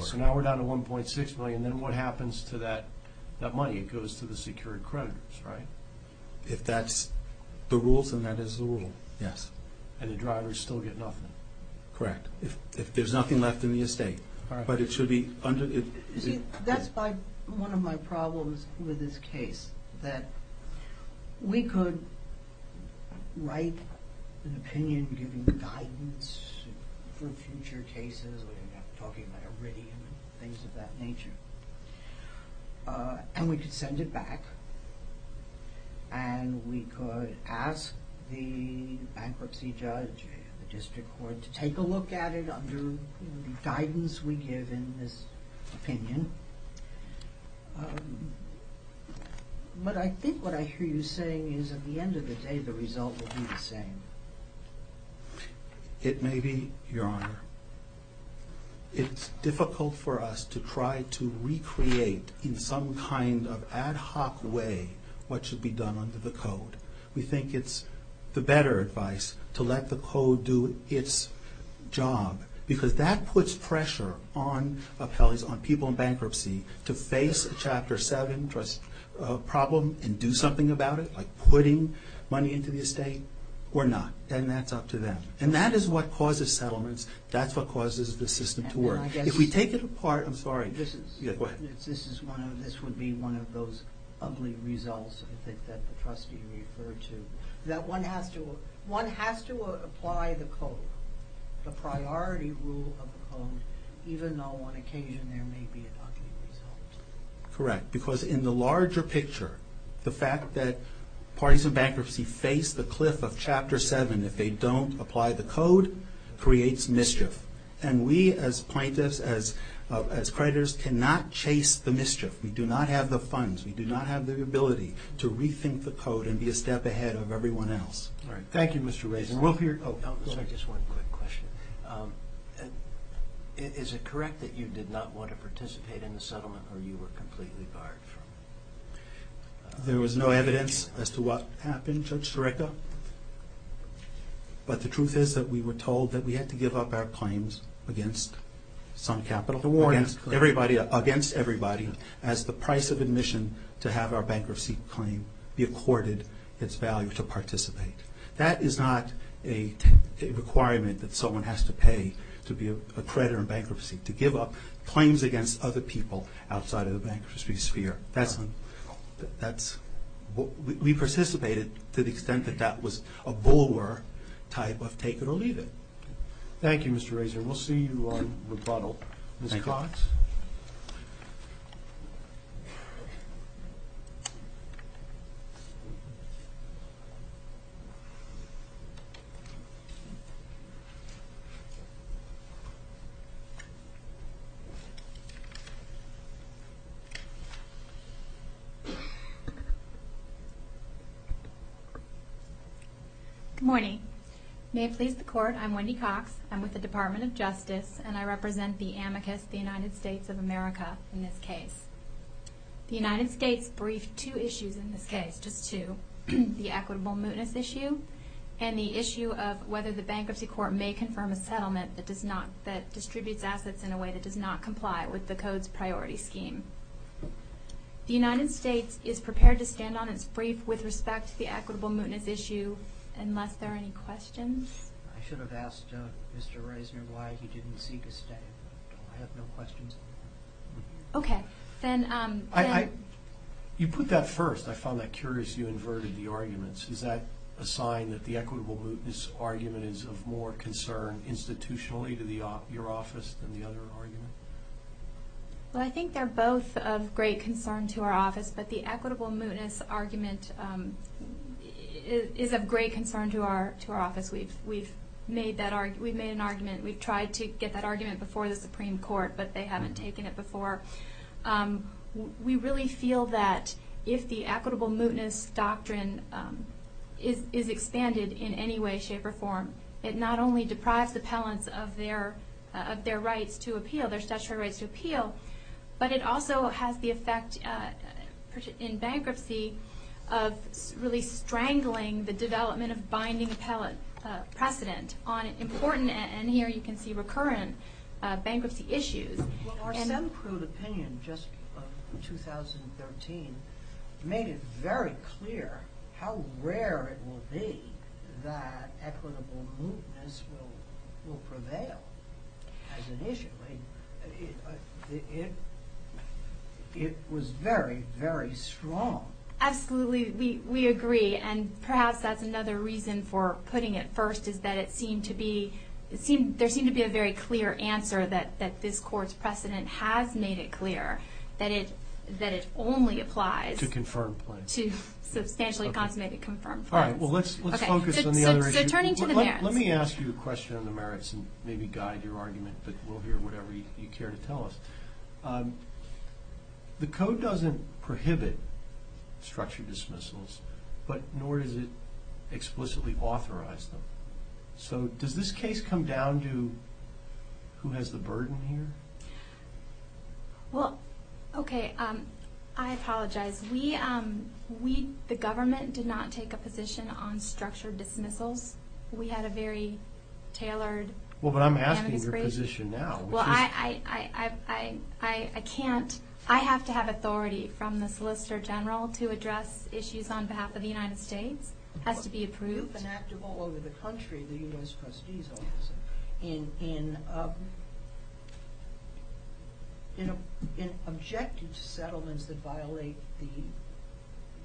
So now we're down to $1.6 million, then what happens to that money? It goes to the secured creditors, right? If that's the rules, then that is the rule. Yes. And the drivers still get nothing? Correct. If there's nothing left in the estate. But it should be under... You see, that's one of my problems with this case, that we could write an opinion, giving guidance for future cases, we're talking about Iridium and things of that nature. And we could send it back, and we could ask the bankruptcy judge in the district court to take a look at it under the guidance we give in this opinion. But I think what I hear you saying is, at the end of the day, the result will be the same. It may be, Your Honor. It's difficult for us to try to recreate in some kind of ad hoc way what should be done under the Code. We think it's the better advice to let the Code do its job, because that puts pressure on appellees, on people in bankruptcy, to face a Chapter 7 problem and do something about it, like putting money into the estate or not. And that's up to them. And that is what causes settlements. That's what causes the system to work. If we take it apart... I'm sorry. This would be one of those ugly results that the trustee referred to, that one has to apply the Code, the priority rule of the Code, even though on occasion there may be an ugly result. Correct. Because in the larger picture, the fact that parties of bankruptcy face the cliff of Chapter 7 if they don't apply the Code creates mischief. And we, as plaintiffs, as creditors, cannot chase the mischief. We do not have the funds. We do not have the ability to rethink the Code and be a step ahead of everyone else. All right. Thank you, Mr. Raisin. We'll hear... Oh. Just one quick question. Is it correct that you did not want to participate in the settlement or you were completely barred from it? There was no evidence as to what happened, Judge Tureka. But the truth is that we were told that we had to give up our claims against some capital... The warnings. ...against everybody as the price of admission to have our bankruptcy claim be accorded its value to participate. That is not a requirement that someone has to pay to be a creditor in bankruptcy, to give up claims against other people outside of the bankruptcy sphere. That's... We participated to the extent that that was a bulwark type of take it or leave it. Thank you, Mr. Raisin. We'll see you on rebuttal. Thank you. Ms. Cox. Good morning. May it please the Court, I'm Wendy Cox. I'm with the Department of Justice and I represent the amicus, the United States of America, in this case. The United States briefed two issues in this case, just two. The equitable mootness issue and the issue of whether the bankruptcy court may confirm a settlement that does not... that distributes assets in a way that does not comply with the Code's priority scheme. The United States is prepared to stand on its brief with respect to the equitable mootness issue unless there are any questions. I should have asked Mr. Raisin why he didn't seek a stay. I have no questions. Okay. Then... I... You put that first. I found that curious you inverted the arguments. Is that a sign that the equitable mootness argument is of more concern institutionally to your office than the other argument? Well, I think they're both of great concern to our office but the equitable mootness argument is of great concern to our office. We've made an argument. We've tried to get that argument before the Supreme Court but they haven't taken it before. We really feel that if the equitable mootness doctrine is expanded in any way, shape, or form it not only deprives appellants of their rights to appeal their statutory rights to appeal but it also has the effect in bankruptcy of really strangling the development of binding appellant precedent on important, and here you can see recurrent, bankruptcy issues. Well, our some crude opinion just in 2013 made it very clear how rare it will be that equitable mootness will prevail as an issue. It was very, very strong. Absolutely, we agree and perhaps that's another reason for putting it first is that it seemed to be there seemed to be a very clear answer that this court's precedent has made it clear that it only applies to confirmed plaintiffs. to substantially consummated confirmed plaintiffs. Alright, well let's focus on the other issue. So turning to the merits. Let me ask you a question on the merits and maybe guide your argument but we'll hear whatever you care to tell us. The code doesn't prohibit structure dismissals but nor does it explicitly authorize them. So does this case come down to who has the burden here? Well, okay, I apologize. The government did not take a position on structure dismissals. We had a very tailored Well, but I'm asking your position now. Well, I can't I have to have authority from the Solicitor General to address issues on behalf of the United States. It has to be approved. It was enacted all over the country, the U.S. Trustees Office, in objective settlements that violate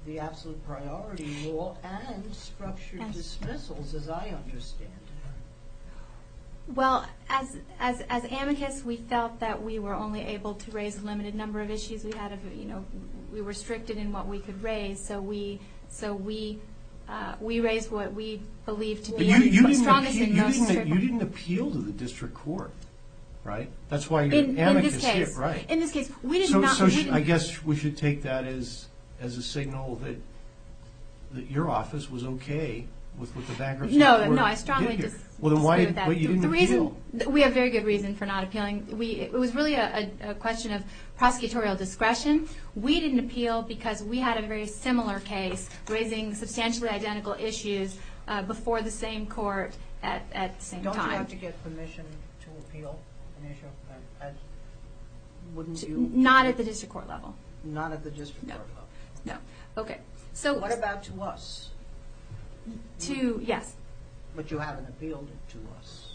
the absolute priority law and structure dismissals as I understand it. Well, as amicus, we felt that we were only able to raise a limited number of issues. We were restricted in what we could raise so we raised what we believed to be But you didn't appeal to the district court, right? In this case, we did not So I guess we should take that as a signal that your office was okay with the baggers? No, I strongly disagree with that. We have very good reason for not appealing. It was really a question of prosecutorial discretion. We didn't appeal because we had a very similar case raising substantially identical issues before the same court at the same time. Don't you have to get permission to appeal an issue? Wouldn't you? Not at the district court level. Not at the district court level. What about to us? Yes. But you haven't appealed it to us.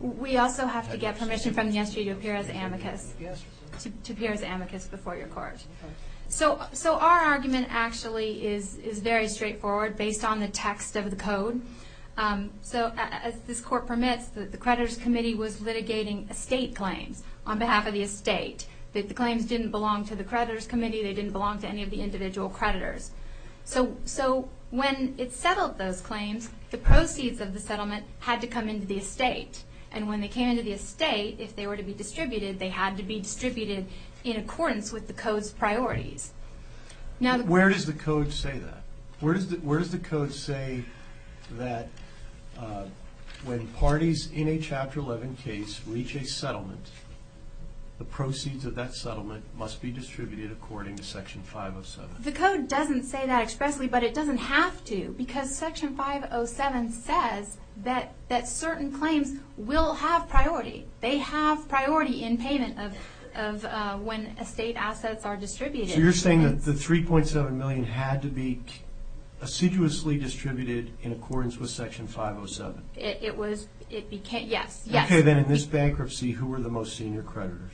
We also have to get permission from the SGA to appear as amicus to appear as amicus before your court. So our argument actually is very straightforward based on the text of the code. So as this court permits, the creditors committee was litigating estate claims on behalf of the estate. The claims didn't belong to the creditors committee. They didn't belong to any of the individual creditors. So when it settled those claims, the proceeds of the settlement had to come into the estate. And when they came into the estate, if they were to be distributed, they had to be distributed in accordance with the code's priorities. Where does the code say that? Where does the code say that when parties in a Chapter 11 case reach a settlement, the proceeds of that settlement must be distributed according to Section 507? The code doesn't say that expressly, but it doesn't have to, because Section 507 says that certain claims will have priority. They have priority in payment of when estate assets are distributed. So you're saying that the $3.7 million had to be assiduously distributed in accordance with Section 507? It was. Yes. Okay. Then in this bankruptcy, who were the most senior creditors?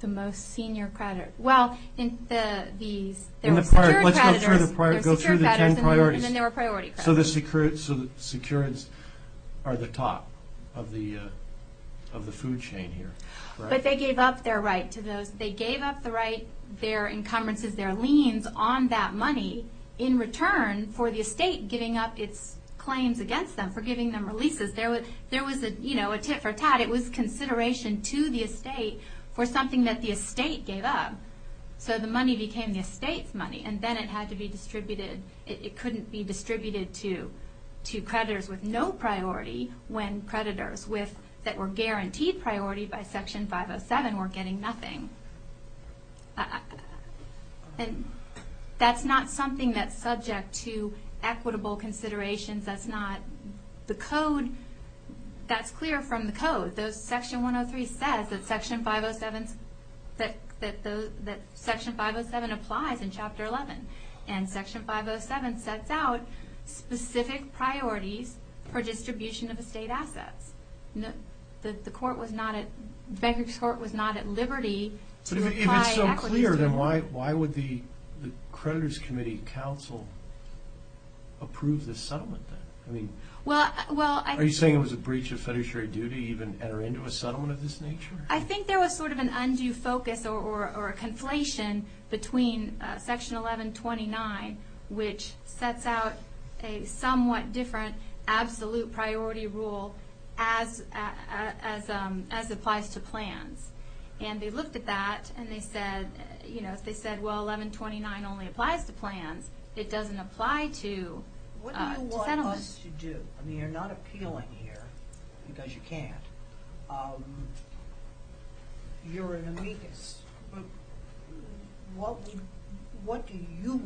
The most senior creditors. Well, there were secured creditors, and then there were priority creditors. So the secureds are the top of the food chain here, right? But they gave up their right to those. They gave up the right, their encumbrances, their liens on that money in return for the estate giving up its claims against them, for giving them releases. There was a tit-for-tat. It was consideration to the estate for something that the estate gave up. So the money became the estate's money, and then it had to be distributed. It couldn't be distributed to creditors with no priority when creditors that were guaranteed priority by Section 507 were getting nothing. That's not something that's subject to equitable considerations. That's not the code. That's clear from the code. Section 103 says that Section 507 applies in Chapter 11, and Section 507 sets out specific priorities for distribution of estate assets. The court was not at liberty to apply equities to them. If that's clear, then why would the creditors' committee council approve this settlement? Are you saying it was a breach of federal duty to even enter into a settlement of this nature? I think there was sort of an undue focus or a conflation between Section 1129, which sets out a somewhat different absolute priority rule as applies to plans. And they looked at that, and they said, if they said, well, 1129 only applies to plans, it doesn't apply to settlements. What do you want us to do? I mean, you're not appealing here because you can't. You're an amicus. What do you,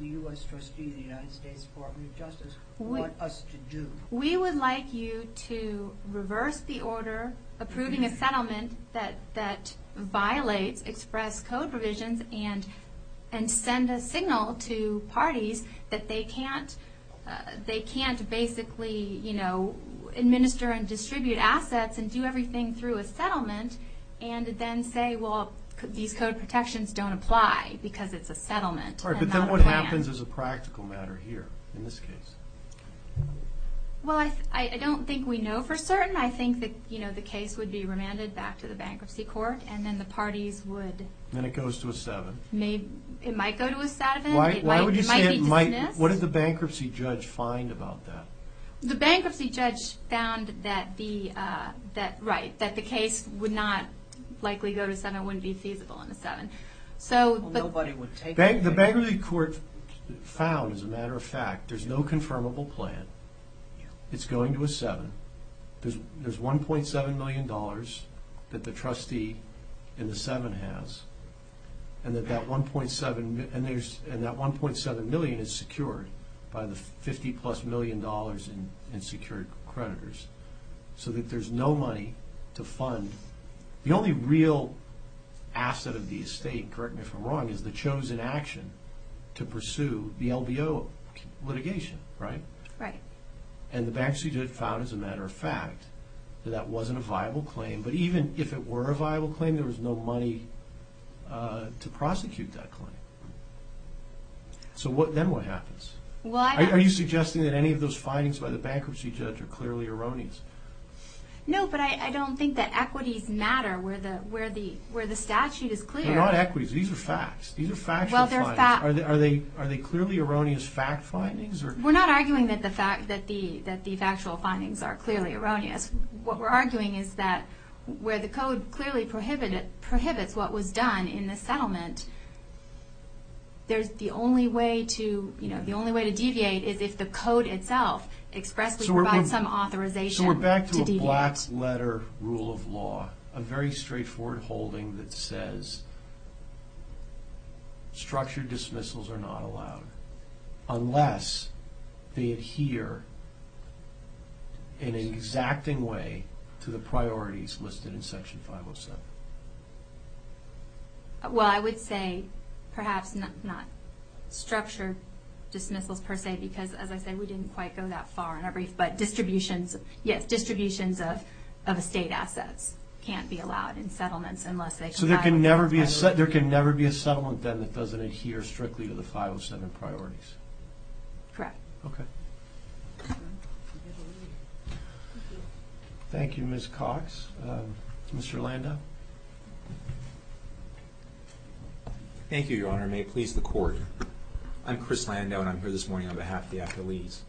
the U.S. trustee of the United States Department of Justice, want us to do? We would like you to reverse the order approving a settlement that violates express code provisions and send a signal to parties that they can't basically administer and distribute assets and do everything through a settlement, and then say, well, these code protections don't apply because it's a settlement and not a plan. What happens as a practical matter here in this case? Well, I don't think we know for certain. I think that the case would be remanded back to the bankruptcy court, and then the parties would... Then it goes to a 7. It might go to a 7. Why would you say it might? What did the bankruptcy judge find about that? The bankruptcy judge found that the case would not likely go to a 7. It wouldn't be feasible on a 7. The bankruptcy court found, as a matter of fact, there's no confirmable plan. It's going to a 7. There's $1.7 million that the trustee in the 7 has, and that $1.7 million is secured by the $50-plus million in secured creditors, so that there's no money to fund. The only real asset of the estate, correct me if I'm wrong, is the chosen action to pursue the LBO litigation, right? Right. And the bankruptcy judge found, as a matter of fact, that that wasn't a viable claim, but even if it were a viable claim, there was no money to prosecute that claim. So then what happens? Are you suggesting that any of those findings by the bankruptcy judge are clearly erroneous? No, but I don't think that equities matter where the statute is clear. They're not equities. These are facts. These are factual findings. Are they clearly erroneous fact findings? We're not arguing that the factual findings are clearly erroneous. What we're arguing is that where the code clearly prohibits what was done in the settlement, the only way to deviate is if the code itself expressly provides some authorization to deviate. So we're back to a black-letter rule of law, a very straightforward holding that says structured dismissals are not allowed unless they adhere in an exacting way to the priorities listed in Section 507. Well, I would say perhaps not structured dismissals per se because, as I said, we didn't quite go that far in our brief, but distributions of estate assets can't be allowed in settlements unless they comply with 507. So there can never be a settlement then that doesn't adhere strictly to the 507 priorities? Correct. Okay. Thank you, Ms. Cox. Mr. Landau? Thank you, Your Honor, and may it please the Court. I'm Chris Landau, and I'm here this morning on behalf of the affilies.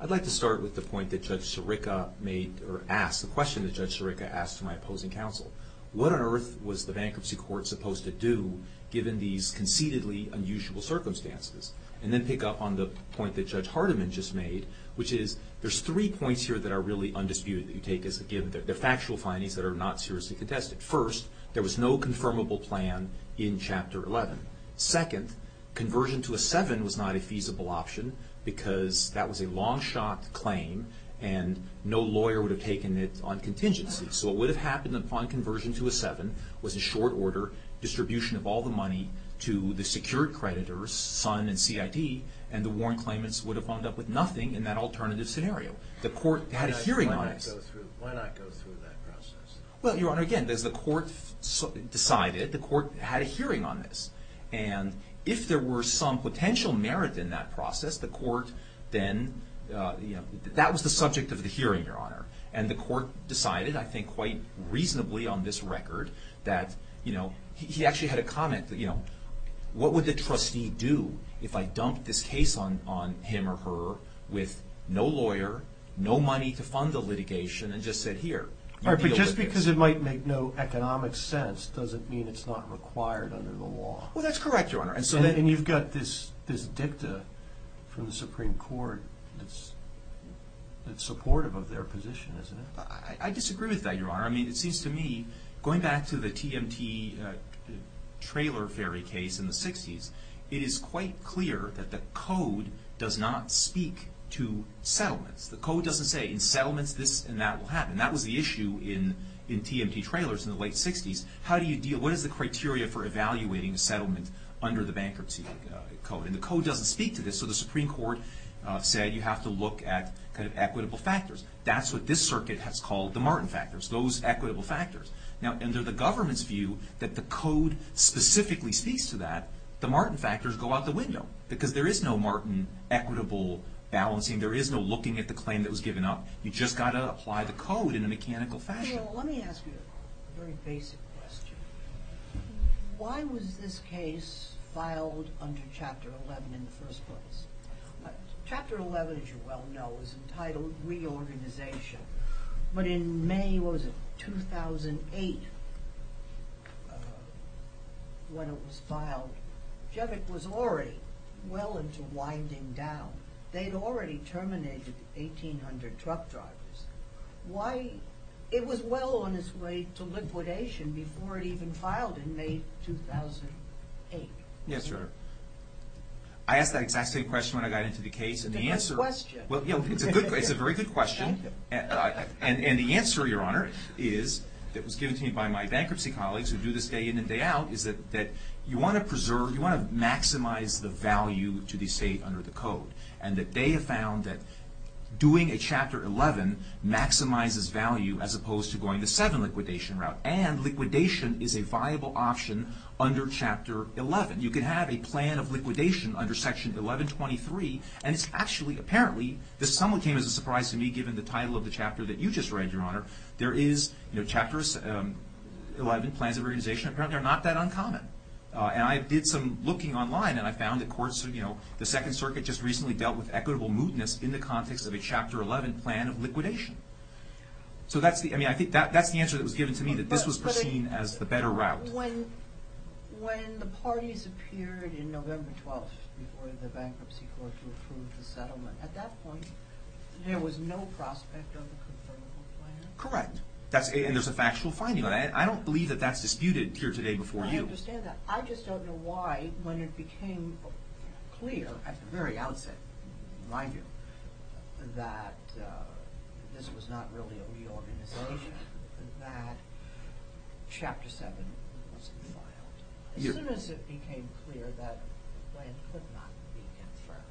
I'd like to start with the point that Judge Sirica made or asked, the question that Judge Sirica asked my opposing counsel. What on earth was the bankruptcy court supposed to do given these conceitedly unusual circumstances? And then pick up on the point that Judge Hardiman just made, which is there's three points here that are really undisputed that you take as a given. They're factual findings that are not seriously contested. First, there was no confirmable plan in Chapter 11. Second, conversion to a 7 was not a feasible option because that was a long-shot claim and no lawyer would have taken it on contingency. So what would have happened upon conversion to a 7 was a short order distribution of all the money to the secured creditors, Sun and CID, and the warrant claimants would have wound up with nothing in that alternative scenario. The court had a hearing on it. Why not go through that process? Well, Your Honor, again, as the court decided, the court had a hearing on this. And if there were some potential merit in that process, the court then, you know, that was the subject of the hearing, Your Honor. And the court decided, I think quite reasonably on this record, that, you know, he actually had a comment, you know, what would the trustee do if I dumped this case on him or her with no lawyer, no money to fund the litigation, and just said, here, you deal with this. But just because it might make no economic sense doesn't mean it's not required under the law. Well, that's correct, Your Honor. And you've got this dicta from the Supreme Court that's supportive of their position, isn't it? I disagree with that, Your Honor. I mean, it seems to me, going back to the TMT trailer ferry case in the 60s, it is quite clear that the code does not speak to settlements. The code doesn't say in settlements this and that will happen. That was the issue in TMT trailers in the late 60s. How do you deal, what is the criteria for evaluating a settlement under the bankruptcy code? And the code doesn't speak to this. So the Supreme Court said you have to look at kind of equitable factors. That's what this circuit has called the Martin factors, those equitable factors. Now, under the government's view that the code specifically speaks to that, the Martin factors go out the window because there is no Martin equitable balancing. There is no looking at the claim that was given up. You've just got to apply the code in a mechanical fashion. Well, let me ask you a very basic question. Why was this case filed under Chapter 11 in the first place? Chapter 11, as you well know, is entitled Reorganization. But in May, what was it, 2008, when it was filed, Chevick was already well into winding down. They had already terminated 1,800 truck drivers. Why, it was well on its way to liquidation before it even filed in May 2008. Yes, Your Honor. I asked that exact same question when I got into the case. It's a good question. It's a very good question. And the answer, Your Honor, is that was given to me by my bankruptcy colleagues who do this day in and day out, is that you want to preserve, you want to maximize the value to the state under the code. And that they have found that doing a Chapter 11 maximizes value as opposed to going the 7 liquidation route. And liquidation is a viable option under Chapter 11. You can have a plan of liquidation under Section 1123, and it's actually, apparently, this somewhat came as a surprise to me given the title of the chapter that you just read, Your Honor. There is, you know, Chapters 11, Plans of Reorganization, apparently are not that uncommon. And I did some looking online, and I found that courts, you know, the Second Circuit just recently dealt with equitable mootness in the context of a Chapter 11 plan of liquidation. So that's the, I mean, I think that's the answer that was given to me, that this was perceived as the better route. But when the parties appeared in November 12th before the Bankruptcy Court to approve the settlement, at that point, there was no prospect of a confirmable plan? Correct. And there's a factual finding on it. I don't believe that that's disputed here today before you. I understand that. I just don't know why, when it became clear at the very outset, in my view, that this was not really a reorganization, that Chapter 7 wasn't filed. As soon as it became clear that the plan could not be confirmed.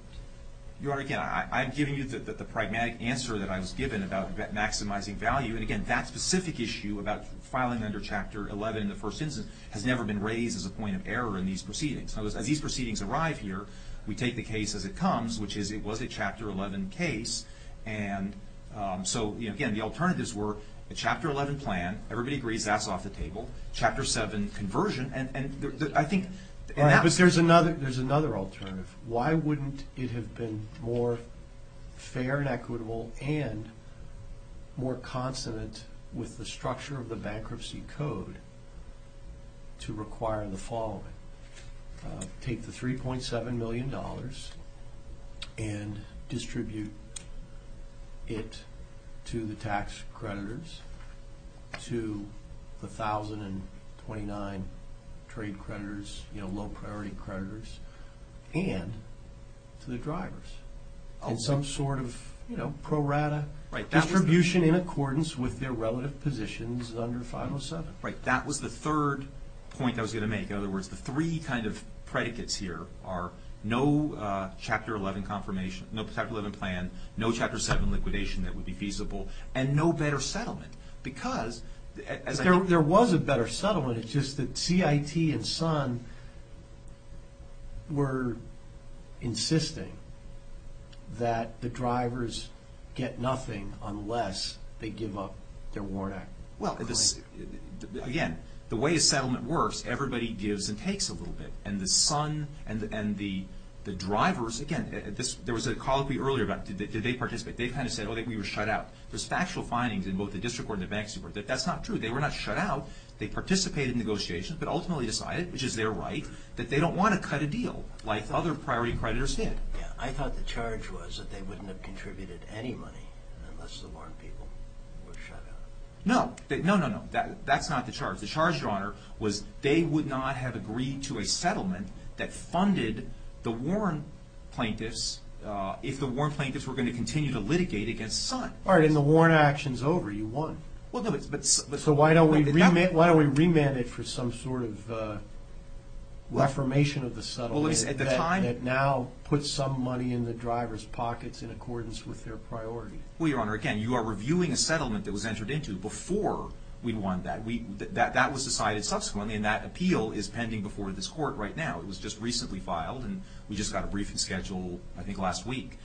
Your Honor, again, I'm giving you the pragmatic answer that I was given about maximizing value. And again, that specific issue about filing under Chapter 11 in the first instance has never been raised as a point of error in these proceedings. As these proceedings arrive here, we take the case as it comes, which is it was a Chapter 11 case. So again, the alternatives were a Chapter 11 plan, everybody agrees that's off the table, Chapter 7 conversion, and I think... But there's another alternative. Why wouldn't it have been more fair and equitable and more consonant with the structure of the Bankruptcy Code to require the following? Take the $3.7 million and distribute it to the tax creditors, to the 1,029 trade creditors, low-priority creditors, and to the drivers. Some sort of pro-rata distribution in accordance with their relative positions under 507. Right, that was the third point I was going to make. In other words, the three kind of predicates here are no Chapter 11 confirmation, no Chapter 11 plan, no Chapter 7 liquidation that would be feasible, and no better settlement. Because, as I think... There was a better settlement, it's just that CIT and SON were insisting that the drivers get nothing unless they give up their Warren Act claim. Again, the way a settlement works, everybody gives and takes a little bit. And the SON and the drivers... Again, there was a colloquy earlier about, did they participate? They kind of said, oh, we were shut out. There's factual findings in both the district court and the bank's report that that's not true. They were not shut out. They participated in negotiations, but ultimately decided, which is their right, that they don't want to cut a deal like other priority creditors did. I thought the charge was that they wouldn't have contributed any money unless the Warren people were shut out. No. No, no, no. That's not the charge. The charge, Your Honor, was they would not have agreed to a settlement that funded the Warren plaintiffs if the Warren plaintiffs were going to continue to litigate against SON. All right, and the Warren action's over. You won. Well, no, but... So why don't we remand it for some sort of reformation of the settlement that now puts some money in the drivers' pockets in accordance with their priority? Well, Your Honor, again, you are reviewing a settlement that was entered into before we won that. That was decided subsequently, and that appeal is pending before this court right now. It was just recently filed, and we just got a briefing schedule, I think, last week.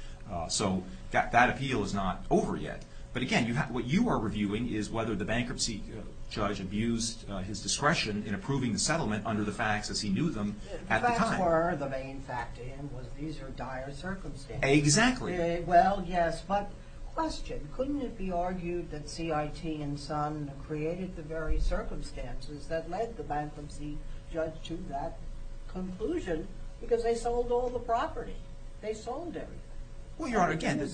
So that appeal is not over yet. But again, what you are reviewing is whether the bankruptcy judge abused his discretion in approving the settlement under the facts as he knew them at the time. If that were the main fact to him, was these are dire circumstances. Exactly. Well, yes, but question. Couldn't it be argued that CIT and SON created the very circumstances that led the bankruptcy judge to that conclusion because they sold all the property? They sold everything. Well, Your Honor, again,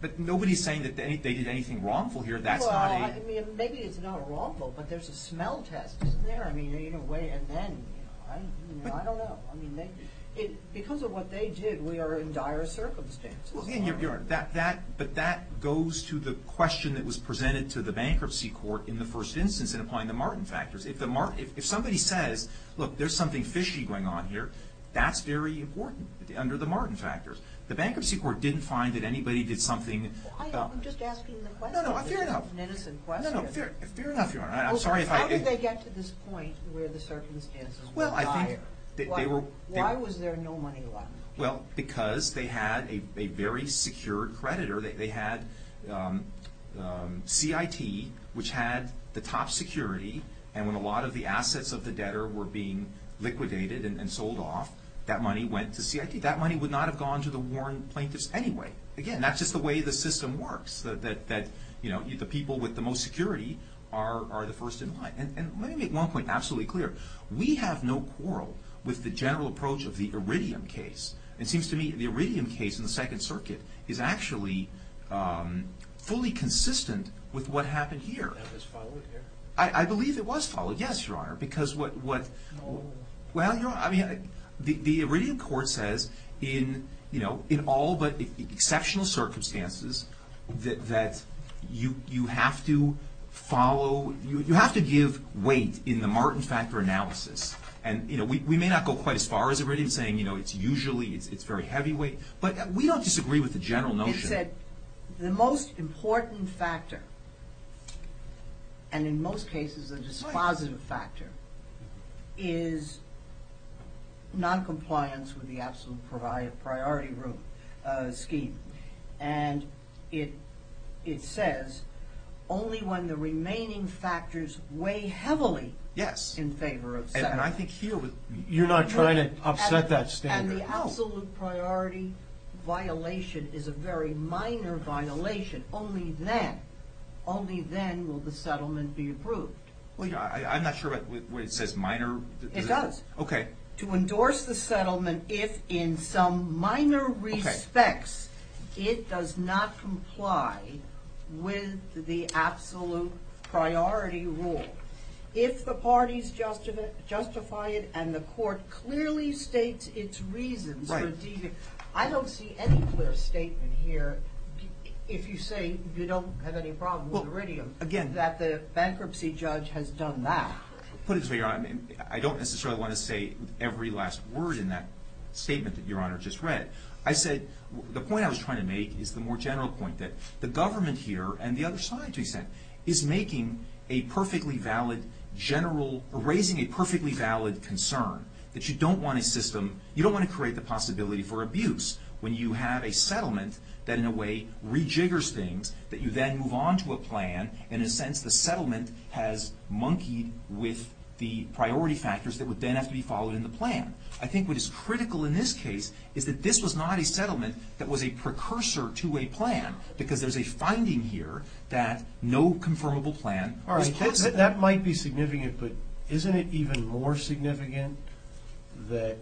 but nobody's saying that they did anything wrongful here. That's not a... Well, I mean, maybe it's not wrongful, but there's a smell test, isn't there? I mean, in a way, and then, you know, I don't know. I mean, because of what they did, we are in dire circumstances. But that goes to the question that was presented to the bankruptcy court in the first instance in applying the Martin factors. If somebody says, look, there's something fishy going on here, that's very important under the Martin factors. The bankruptcy court didn't find that anybody did something... I'm just asking the question. No, no, fair enough. It's an innocent question. No, no, fair enough, Your Honor. I'm sorry if I... How did they get to this point where the circumstances were dire? Why was there no money laundering? Well, because they had a very secure creditor. They had CIT, which had the top security, and when a lot of the assets of the debtor were being liquidated and sold off, that money went to CIT. That money would not have gone to the warrant plaintiffs anyway. Again, that's just the way the system works, that, you know, the people with the most security are the first in line. And let me make one point absolutely clear. We have no quarrel with the general approach of the Iridium case. It seems to me the Iridium case in the Second Circuit is actually fully consistent with what happened here. Was it followed here? I believe it was followed, yes, Your Honor, because what... No. Well, I mean, the Iridium court says in all but exceptional circumstances that you have to follow... You have to give weight in the Martin factor analysis. And, you know, we may not go quite as far as Iridium, saying, you know, it's usually, it's very heavyweight, but we don't disagree with the general notion. It said the most important factor, and in most cases a dispositive factor, is noncompliance with the absolute priority scheme. And it says only when the remaining factors weigh heavily in favor of settlement. And I think here... You're not trying to upset that standard. And the absolute priority violation is a very minor violation. Only then, only then will the settlement be approved. Well, I'm not sure what it says, minor? It does. Okay. To endorse the settlement if in some minor respects it does not comply with the absolute priority rule. If the parties justify it, and the court clearly states its reasons for deeming... Right. I don't see any clear statement here, if you say you don't have any problem with Iridium, that the bankruptcy judge has done that. Put it this way, Your Honor, I don't necessarily want to say every last word in that statement that Your Honor just read. I said... The point I was trying to make is the more general point that the government here and the other side, to be exact, is making a perfectly valid general... Raising a perfectly valid concern that you don't want a system... You don't want to create the possibility for abuse when you have a settlement that in a way rejiggers things, that you then move on to a plan. In a sense, the settlement has monkeyed with the priority factors that would then have to be followed in the plan. I think what is critical in this case is that this was not a settlement that was a precursor to a plan, because there's a finding here that no confirmable plan... All right, that might be significant, but isn't it even more significant that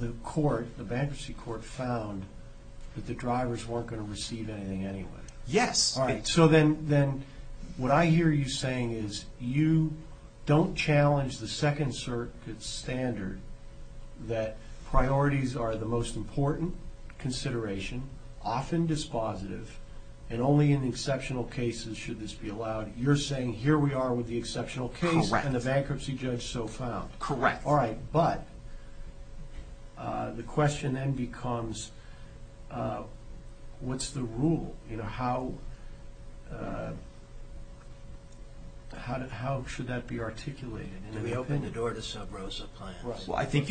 the court, the bankruptcy court, found that the drivers weren't going to receive anything anyway? Yes. All right, so then what I hear you saying is you don't challenge the Second Circuit standard that priorities are the most important consideration, often dispositive, and only in exceptional cases should this be allowed. You're saying here we are with the exceptional case... Correct. ...and the bankruptcy judge so found. Correct. All right, but the question then becomes, what's the rule? How should that be articulated? Do we open the door to sub-ROSA plans? Well, I think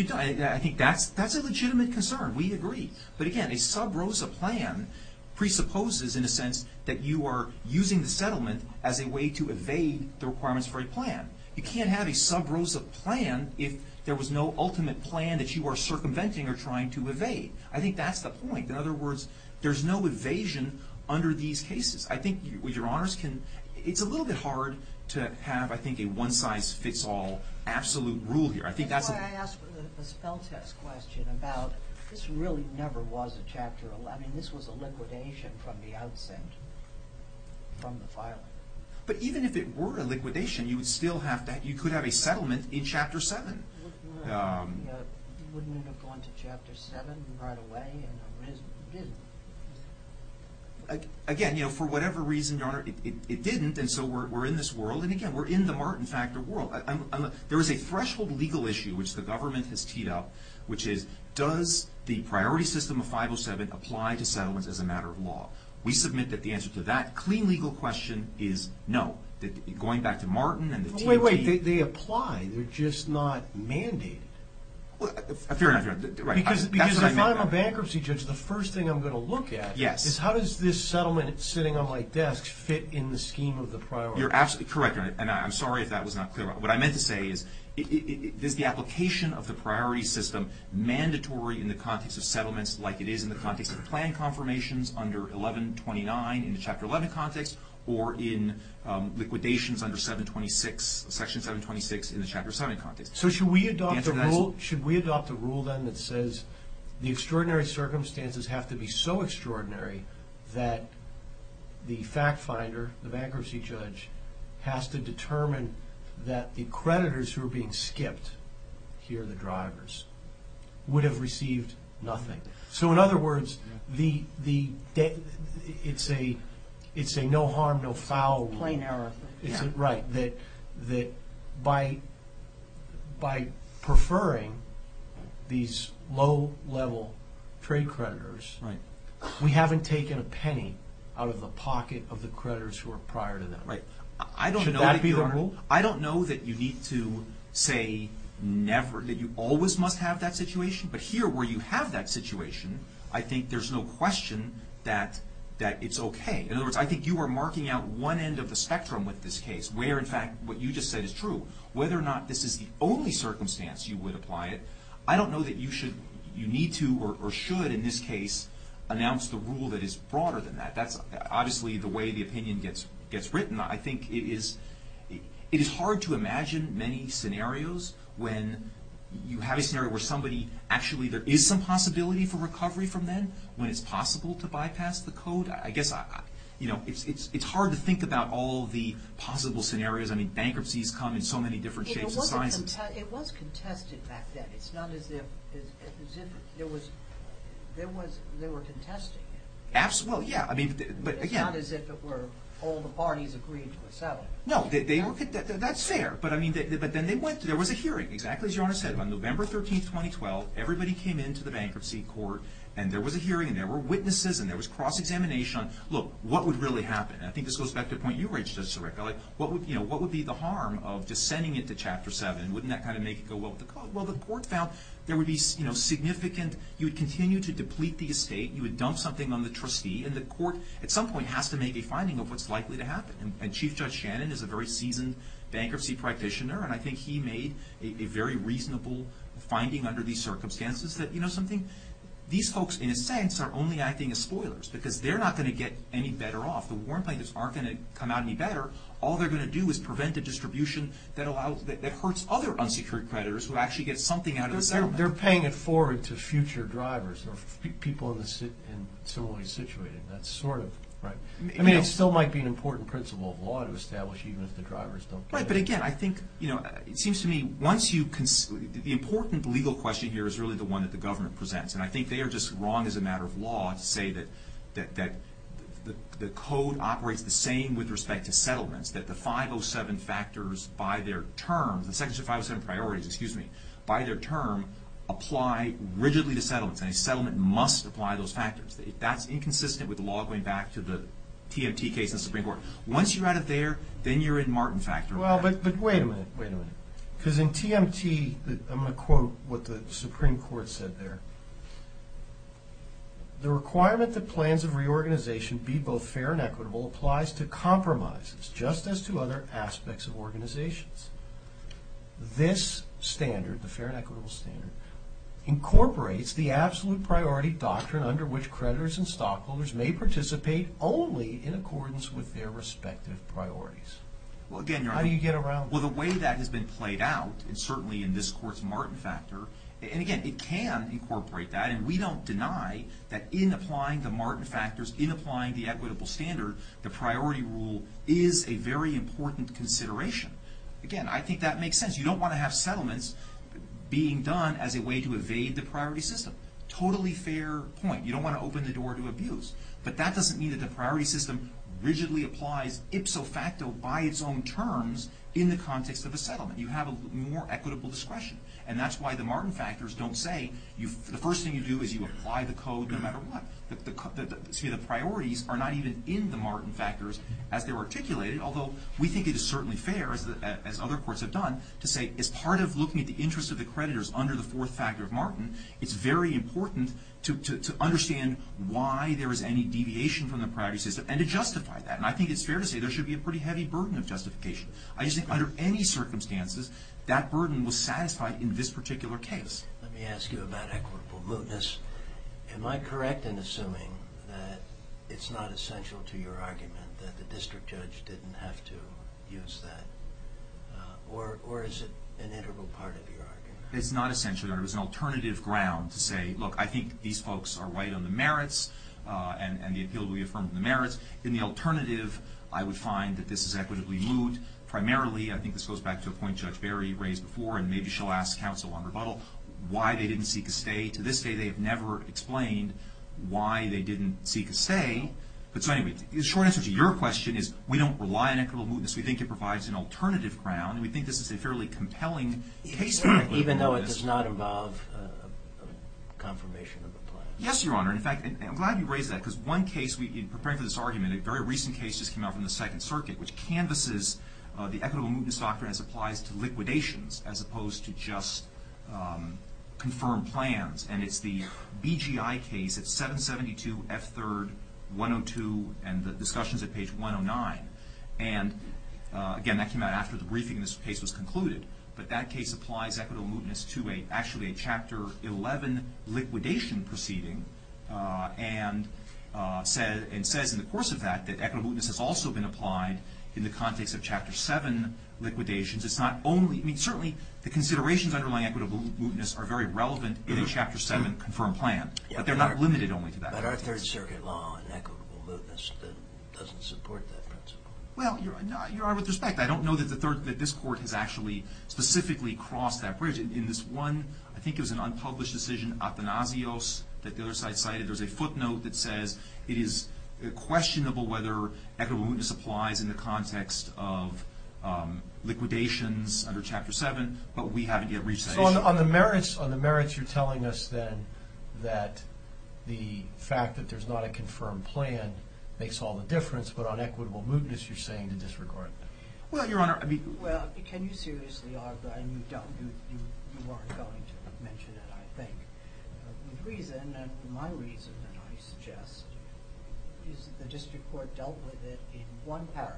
that's a legitimate concern. We agree. But again, a sub-ROSA plan presupposes, in a sense, that you are using the settlement as a way to evade the requirements for a plan. You can't have a sub-ROSA plan if there was no ultimate plan that you are circumventing or trying to evade. I think that's the point. In other words, there's no evasion under these cases. I think your honors can... It's a little bit hard to have, I think, a one-size-fits-all absolute rule here. That's why I asked the spell-test question about this really never was a Chapter 11. This was a liquidation from the outset, from the filing. But even if it were a liquidation, you could have a settlement in Chapter 7. Wouldn't it have gone to Chapter 7 right away? It didn't. Again, for whatever reason, your honor, it didn't, and so we're in this world, and again, we're in the Martin Factor world. There is a threshold legal issue which the government has teed up, which is, does the priority system of 507 apply to settlements as a matter of law? We submit that the answer to that clean legal question is no. Going back to Martin and the... Wait, wait, they apply. They're just not mandated. Fair enough, your honor. Because if I'm a bankruptcy judge, the first thing I'm going to look at is, how does this settlement sitting on my desk fit in the scheme of the priority system? You're absolutely correct, your honor, and I'm sorry if that was not clear. What I meant to say is, is the application of the priority system mandatory in the context of settlements like it is in the context of the plan confirmations under 1129 in the Chapter 11 context or in liquidations under 726, Section 726 in the Chapter 7 context. So should we adopt a rule then that says, the extraordinary circumstances have to be so extraordinary that the fact finder, the bankruptcy judge, has to determine that the creditors who are being skipped, here are the drivers, would have received nothing. So in other words, it's a no harm, no foul rule. Plain error. Right. That by preferring these low-level trade creditors, we haven't taken a penny out of the pocket of the creditors who are prior to them. Right. Should that be the rule? I don't know that you need to say never, that you always must have that situation, but here where you have that situation, I think there's no question that it's okay. In other words, I think you are marking out one end of the spectrum with this case, where in fact what you just said is true. Whether or not this is the only circumstance you would apply it, I don't know that you need to or should, in this case, announce the rule that is broader than that. That's obviously the way the opinion gets written. I think it is hard to imagine many scenarios when you have a scenario where somebody, actually there is some possibility for recovery from then, when it's possible to bypass the code. I guess it's hard to think about all the possible scenarios. I mean, bankruptcies come in so many different shapes and sizes. It was contested back then. It's not as if they were contesting it. Well, yeah. It's not as if all the parties agreed to a settlement. No. That's fair. But then there was a hearing, exactly as your Honor said, on November 13, 2012, everybody came into the bankruptcy court, and there was a hearing, and there were witnesses, and there was cross-examination on, look, what would really happen? And I think this goes back to the point you raised, Judge Sirico. What would be the harm of just sending it to Chapter 7? Wouldn't that kind of make it go well with the code? Well, the court found there would be significant, you would continue to deplete the estate, you would dump something on the trustee, and the court at some point has to make a finding of what's likely to happen. And Chief Judge Shannon is a very seasoned bankruptcy practitioner, and I think he made a very reasonable finding under these circumstances, that these folks, in a sense, are only acting as spoilers, because they're not going to get any better off. The warrant plaintiffs aren't going to come out any better. All they're going to do is prevent a distribution that hurts other unsecured creditors who actually get something out of the settlement. They're paying it forward to future drivers, or people in similarly situated. That's sort of, right? I mean, it still might be an important principle of law to establish even if the drivers don't get it. Right, but again, I think, you know, it seems to me, once you... The important legal question here is really the one that the government presents, and I think they are just wrong as a matter of law to say that the code operates the same with respect to settlements, that the 507 factors by their terms, the section 507 priorities, excuse me, by their term apply rigidly to settlements, and a settlement must apply those factors. That's inconsistent with the law going back to the TMT case in the Supreme Court. Once you're out of there, then you're in Martin factor. Well, but wait a minute, wait a minute. Because in TMT, I'm going to quote what the Supreme Court said there. The requirement that plans of reorganization be both fair and equitable applies to compromises just as to other aspects of organizations. This standard, the fair and equitable standard, incorporates the absolute priority doctrine under which creditors and stockholders may participate only in accordance with their respective priorities. How do you get around that? Well, the way that has been played out, and certainly in this court's Martin factor, and again, it can incorporate that, and we don't deny that in applying the Martin factors, in applying the equitable standard, the priority rule is a very important consideration. Again, I think that makes sense. You don't want to have settlements being done as a way to evade the priority system. Totally fair point. You don't want to open the door to abuse. But that doesn't mean that the priority system rigidly applies ipso facto by its own terms in the context of a settlement. You have a more equitable discretion. And that's why the Martin factors don't say, the first thing you do is you apply the code no matter what. See, the priorities are not even in the Martin factors as they were articulated, although we think it is certainly fair, as other courts have done, to say as part of looking at the interests of the creditors under the fourth factor of Martin, it's very important to understand why there is any deviation from the priority system and to justify that. And I think it's fair to say there should be a pretty heavy burden of justification. I just think under any circumstances, that burden was satisfied in this particular case. Let me ask you about equitable mootness. Am I correct in assuming that it's not essential to your argument that the district judge didn't have to use that? Or is it an integral part of your argument? It's not essential. There was an alternative ground to say, look, I think these folks are right on the merits and the appeal to reaffirm the merits. In the alternative, I would find that this is equitably moot. Primarily, I think this goes back to a point Judge Barry raised before, and maybe she'll ask counsel on rebuttal, why they didn't seek a stay. To this day, they have never explained why they didn't seek a stay. But so anyway, the short answer to your question is we don't rely on equitable mootness. We think it provides an alternative ground. We think this is a fairly compelling case. Even though it does not involve confirmation of the plan? Yes, Your Honor. In fact, I'm glad you raised that. Because one case, in preparing for this argument, a very recent case just came out from the Second Circuit, which canvases the equitable mootness doctrine as it applies to liquidations, as opposed to just confirmed plans. And it's the BGI case at 772 F3rd 102, and the discussion's at page 109. And again, that came out after the briefing and this case was concluded. But that case applies equitable mootness to actually a Chapter 11 liquidation proceeding and says in the course of that that equitable mootness has also been applied in the context of Chapter 7 liquidations. It's not only... I mean, certainly the considerations underlying equitable mootness are very relevant in a Chapter 7 confirmed plan. But they're not limited only to that. But our Third Circuit law on equitable mootness doesn't support that principle. Well, Your Honor, with respect, I don't know that this court has actually specifically crossed that bridge in this one, I think it was an unpublished decision, Athanasios, that the other side cited. There's a footnote that says it is questionable whether equitable mootness applies in the context of liquidations under Chapter 7, but we haven't yet reached that issue. So on the merits you're telling us then that the fact that there's not a confirmed plan makes all the difference, but on equitable mootness you're saying to disregard that. Well, Your Honor, I mean... Well, can you seriously argue that you don't, you aren't going to mention it, I think. The reason, and my reason that I suggest, is that the District Court dealt with it in one paragraph,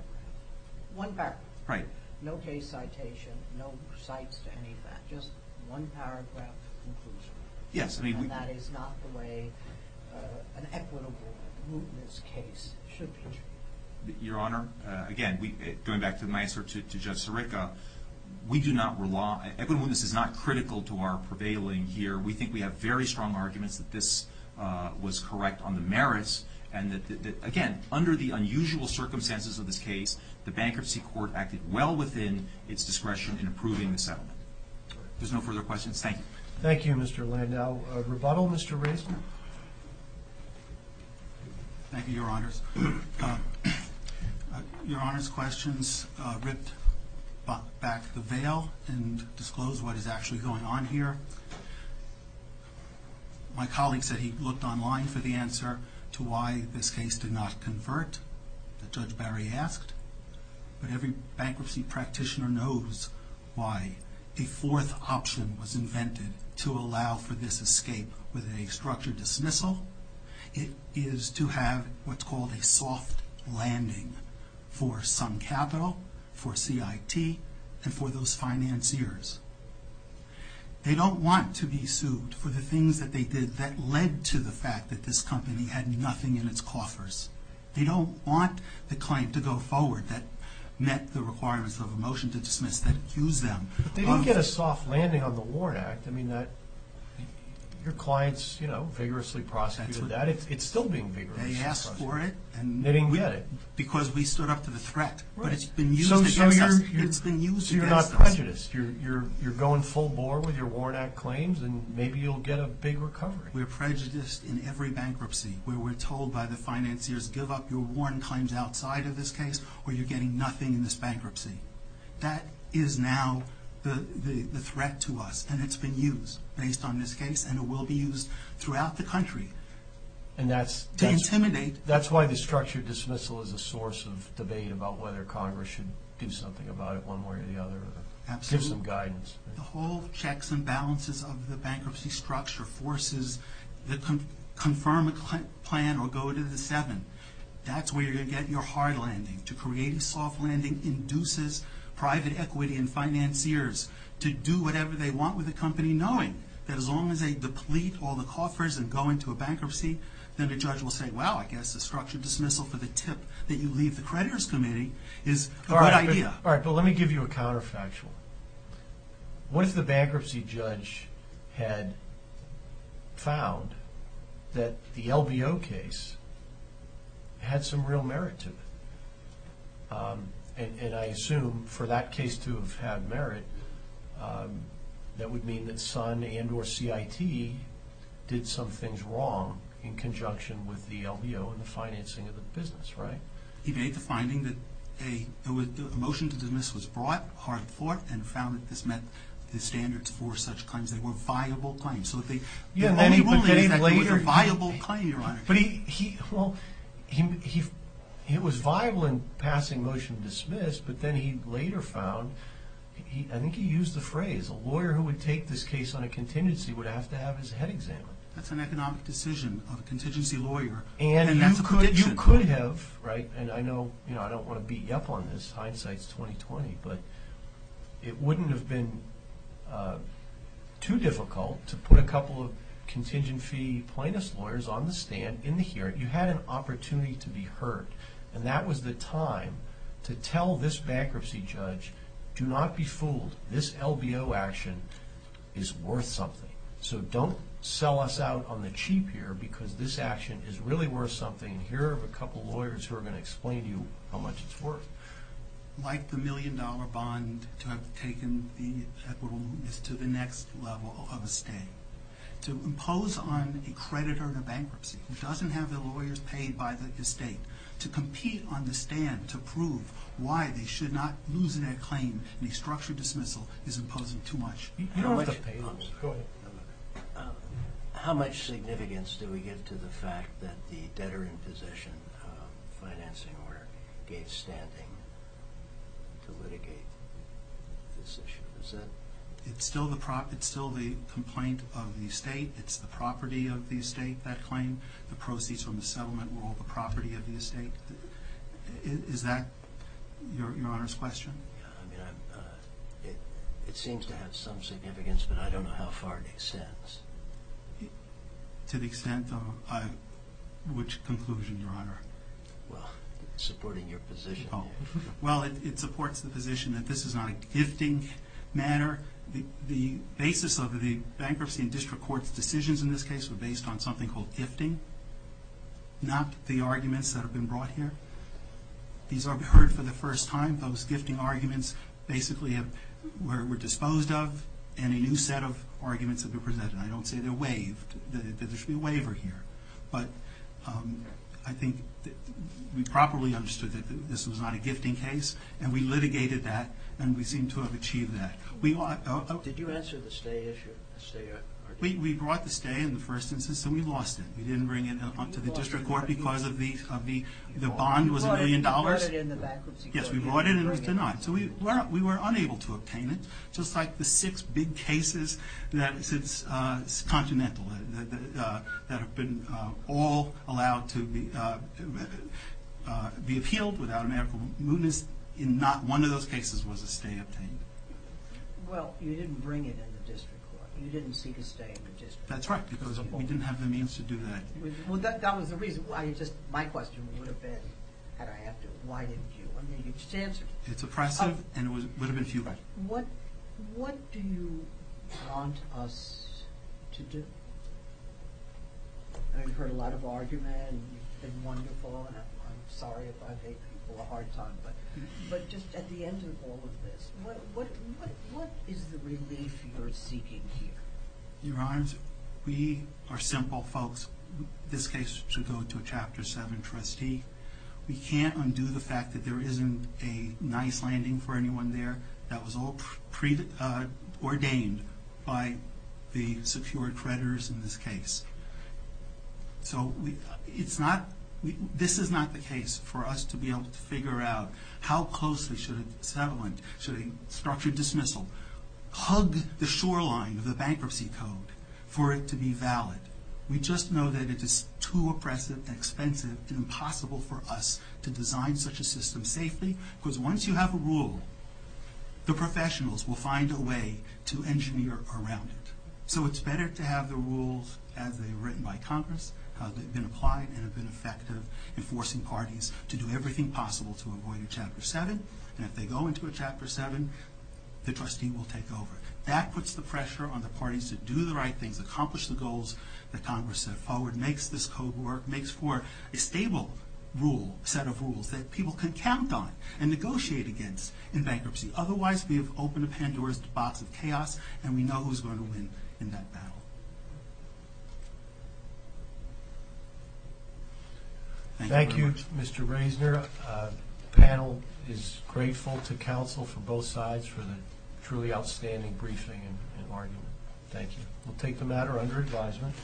one paragraph. Right. No case citation, no cites to any of that, just one paragraph conclusion. Yes, I mean... And that is not the way an equitable mootness case should be treated. Your Honor, again, going back to my answer to Judge Sirica, we do not rely, equitable mootness is not critical to our prevailing here. We think we have very strong arguments that this was correct on the merits, and that, again, under the unusual circumstances of this case, the Bankruptcy Court acted well within its discretion in approving the settlement. If there's no further questions, thank you. Thank you, Mr. Landau. Rebuttal, Mr. Raisman? Thank you, Your Honors. Your Honor's questions ripped back the veil and disclosed what is actually going on here. My colleague said he looked online for the answer to why this case did not convert, that Judge Barry asked. But every bankruptcy practitioner knows why a fourth option was invented to allow for this escape with a structured dismissal. It is to have what's called a soft landing for some capital, for CIT, and for those financiers. They don't want to be sued for the things that they did that led to the fact that this company had nothing in its coffers. They don't want the claim to go forward that met the requirements of a motion to dismiss that accused them of... But they didn't get a soft landing on the Warren Act. I mean, your clients, you know, vigorously prosecuted that. It's still being vigorously prosecuted. They asked for it. They didn't get it. Because we stood up to the threat. But it's been used against us. So you're not prejudiced. You're going full bore with your Warren Act claims and maybe you'll get a big recovery. We're prejudiced in every bankruptcy where we're told by the financiers, give up your Warren claims outside of this case or you're getting nothing in this bankruptcy. That is now the threat to us and it's been used based on this case and it will be used throughout the country. And that's... To intimidate. That's why the structured dismissal is a source of debate about whether Congress should do something about it one way or the other. Absolutely. Give some guidance. The whole checks and balances of the bankruptcy structure forces the... Confirm a plan or go to the seven. That's where you're going to get your hard landing. To create a soft landing induces private equity in financiers to do whatever they want with the company knowing that as long as they deplete all the coffers and go into a bankruptcy, then the judge will say, well, I guess a structured dismissal for the tip that you leave the creditors committee is a good idea. All right, but let me give you a counterfactual. What if the bankruptcy judge had found that the LBO case had some real merit to it? And I assume for that case to have had merit, that would mean that Sun and or CIT did some things wrong in conjunction with the LBO and the financing of the business, right? He made the finding that a motion to dismiss was brought, hard fought, and found that this met the standards for such claims. They were viable claims. So the only ruling is that they were a viable claim, Your Honor. Well, it was viable in passing motion to dismiss, but then he later found, I think he used the phrase, a lawyer who would take this case on a contingency would have to have his head examined. That's an economic decision of a contingency lawyer, and that's a prediction. And you could have, right, and I know I don't want to beat you up on this, hindsight's 20-20, but it wouldn't have been too difficult to put a couple of contingency plaintiff's lawyers on the stand in the hearing. You had an opportunity to be heard, and that was the time to tell this bankruptcy judge do not be fooled. This LBO action is worth something. So don't sell us out on the cheap here because this action is really worth something, and here are a couple of lawyers who are going to explain to you how much it's worth. Like the million-dollar bond, to have taken the equitables to the next level of a state. To impose on a creditor in a bankruptcy who doesn't have the lawyers paid by the estate to compete on the stand to prove why they should not lose their claim in a structured dismissal is imposing too much. You don't have to pay them. Go ahead. How much significance do we give to the fact that the debtor-in-possession financing order gave standing to litigate this issue? Is that... It's still the complaint of the estate. It's the property of the estate, that claim. The proceeds from the settlement were all the property of the estate. Is that Your Honor's question? It seems to have some significance, but I don't know how far it extends. To the extent of which conclusion, Your Honor? Well, supporting your position. Well, it supports the position that this is not a gifting matter. The basis of the bankruptcy and district court's decisions in this case were based on something called gifting, not the arguments that have been brought here. These are heard for the first time. Those gifting arguments basically were disposed of and a new set of arguments have been presented. I don't say they're waived, that there should be a waiver here. But I think we properly understood that this was not a gifting case, and we litigated that, and we seem to have achieved that. Did you answer the stay issue? We brought the stay in the first instance, and we lost it. We didn't bring it to the district court because the bond was a million dollars. Yes, we brought it and it was denied. So we were unable to obtain it, just like the six big cases since Continental that have been all allowed to be appealed without a medical mootness. Not one of those cases was a stay obtained. Well, you didn't bring it in the district court. You didn't seek a stay in the district court. That's right, because we didn't have the means to do that. That was the reason. My question would have been, had I had to, why didn't you? You just answered it. It's oppressive, and it would have been fueled. What do you want us to do? I mean, we've heard a lot of argument, and you've been wonderful, and I'm sorry if I've made people a hard time, but just at the end of all of this, what is the relief you're seeking here? Your Honors, we are simple folks. This case should go to a Chapter 7 trustee. We can't undo the fact that there isn't a nice landing for anyone there that was all ordained by the secured creditors in this case. So this is not the case for us to be able to figure out how closely should a structure dismissal hug the shoreline of the bankruptcy code for it to be valid. We just know that it is too oppressive and expensive and impossible for us to design such a system safely, because once you have a rule, the professionals will find a way to engineer around it. So it's better to have the rules as they were written by Congress, how they've been applied and have been effective in forcing parties to do everything possible to avoid a Chapter 7, and if they go into a Chapter 7, the trustee will take over. That puts the pressure on the parties to do the right things, accomplish the goals that Congress set forward, makes this code work, makes for a stable set of rules that people can count on and negotiate against in bankruptcy. Otherwise, we have opened a Pandora's box of chaos, and we know who's going to win in that battle. Thank you, Mr. Reisner. The panel is grateful to counsel from both sides for the truly outstanding briefing and argument. Thank you. We'll take the matter under advisement.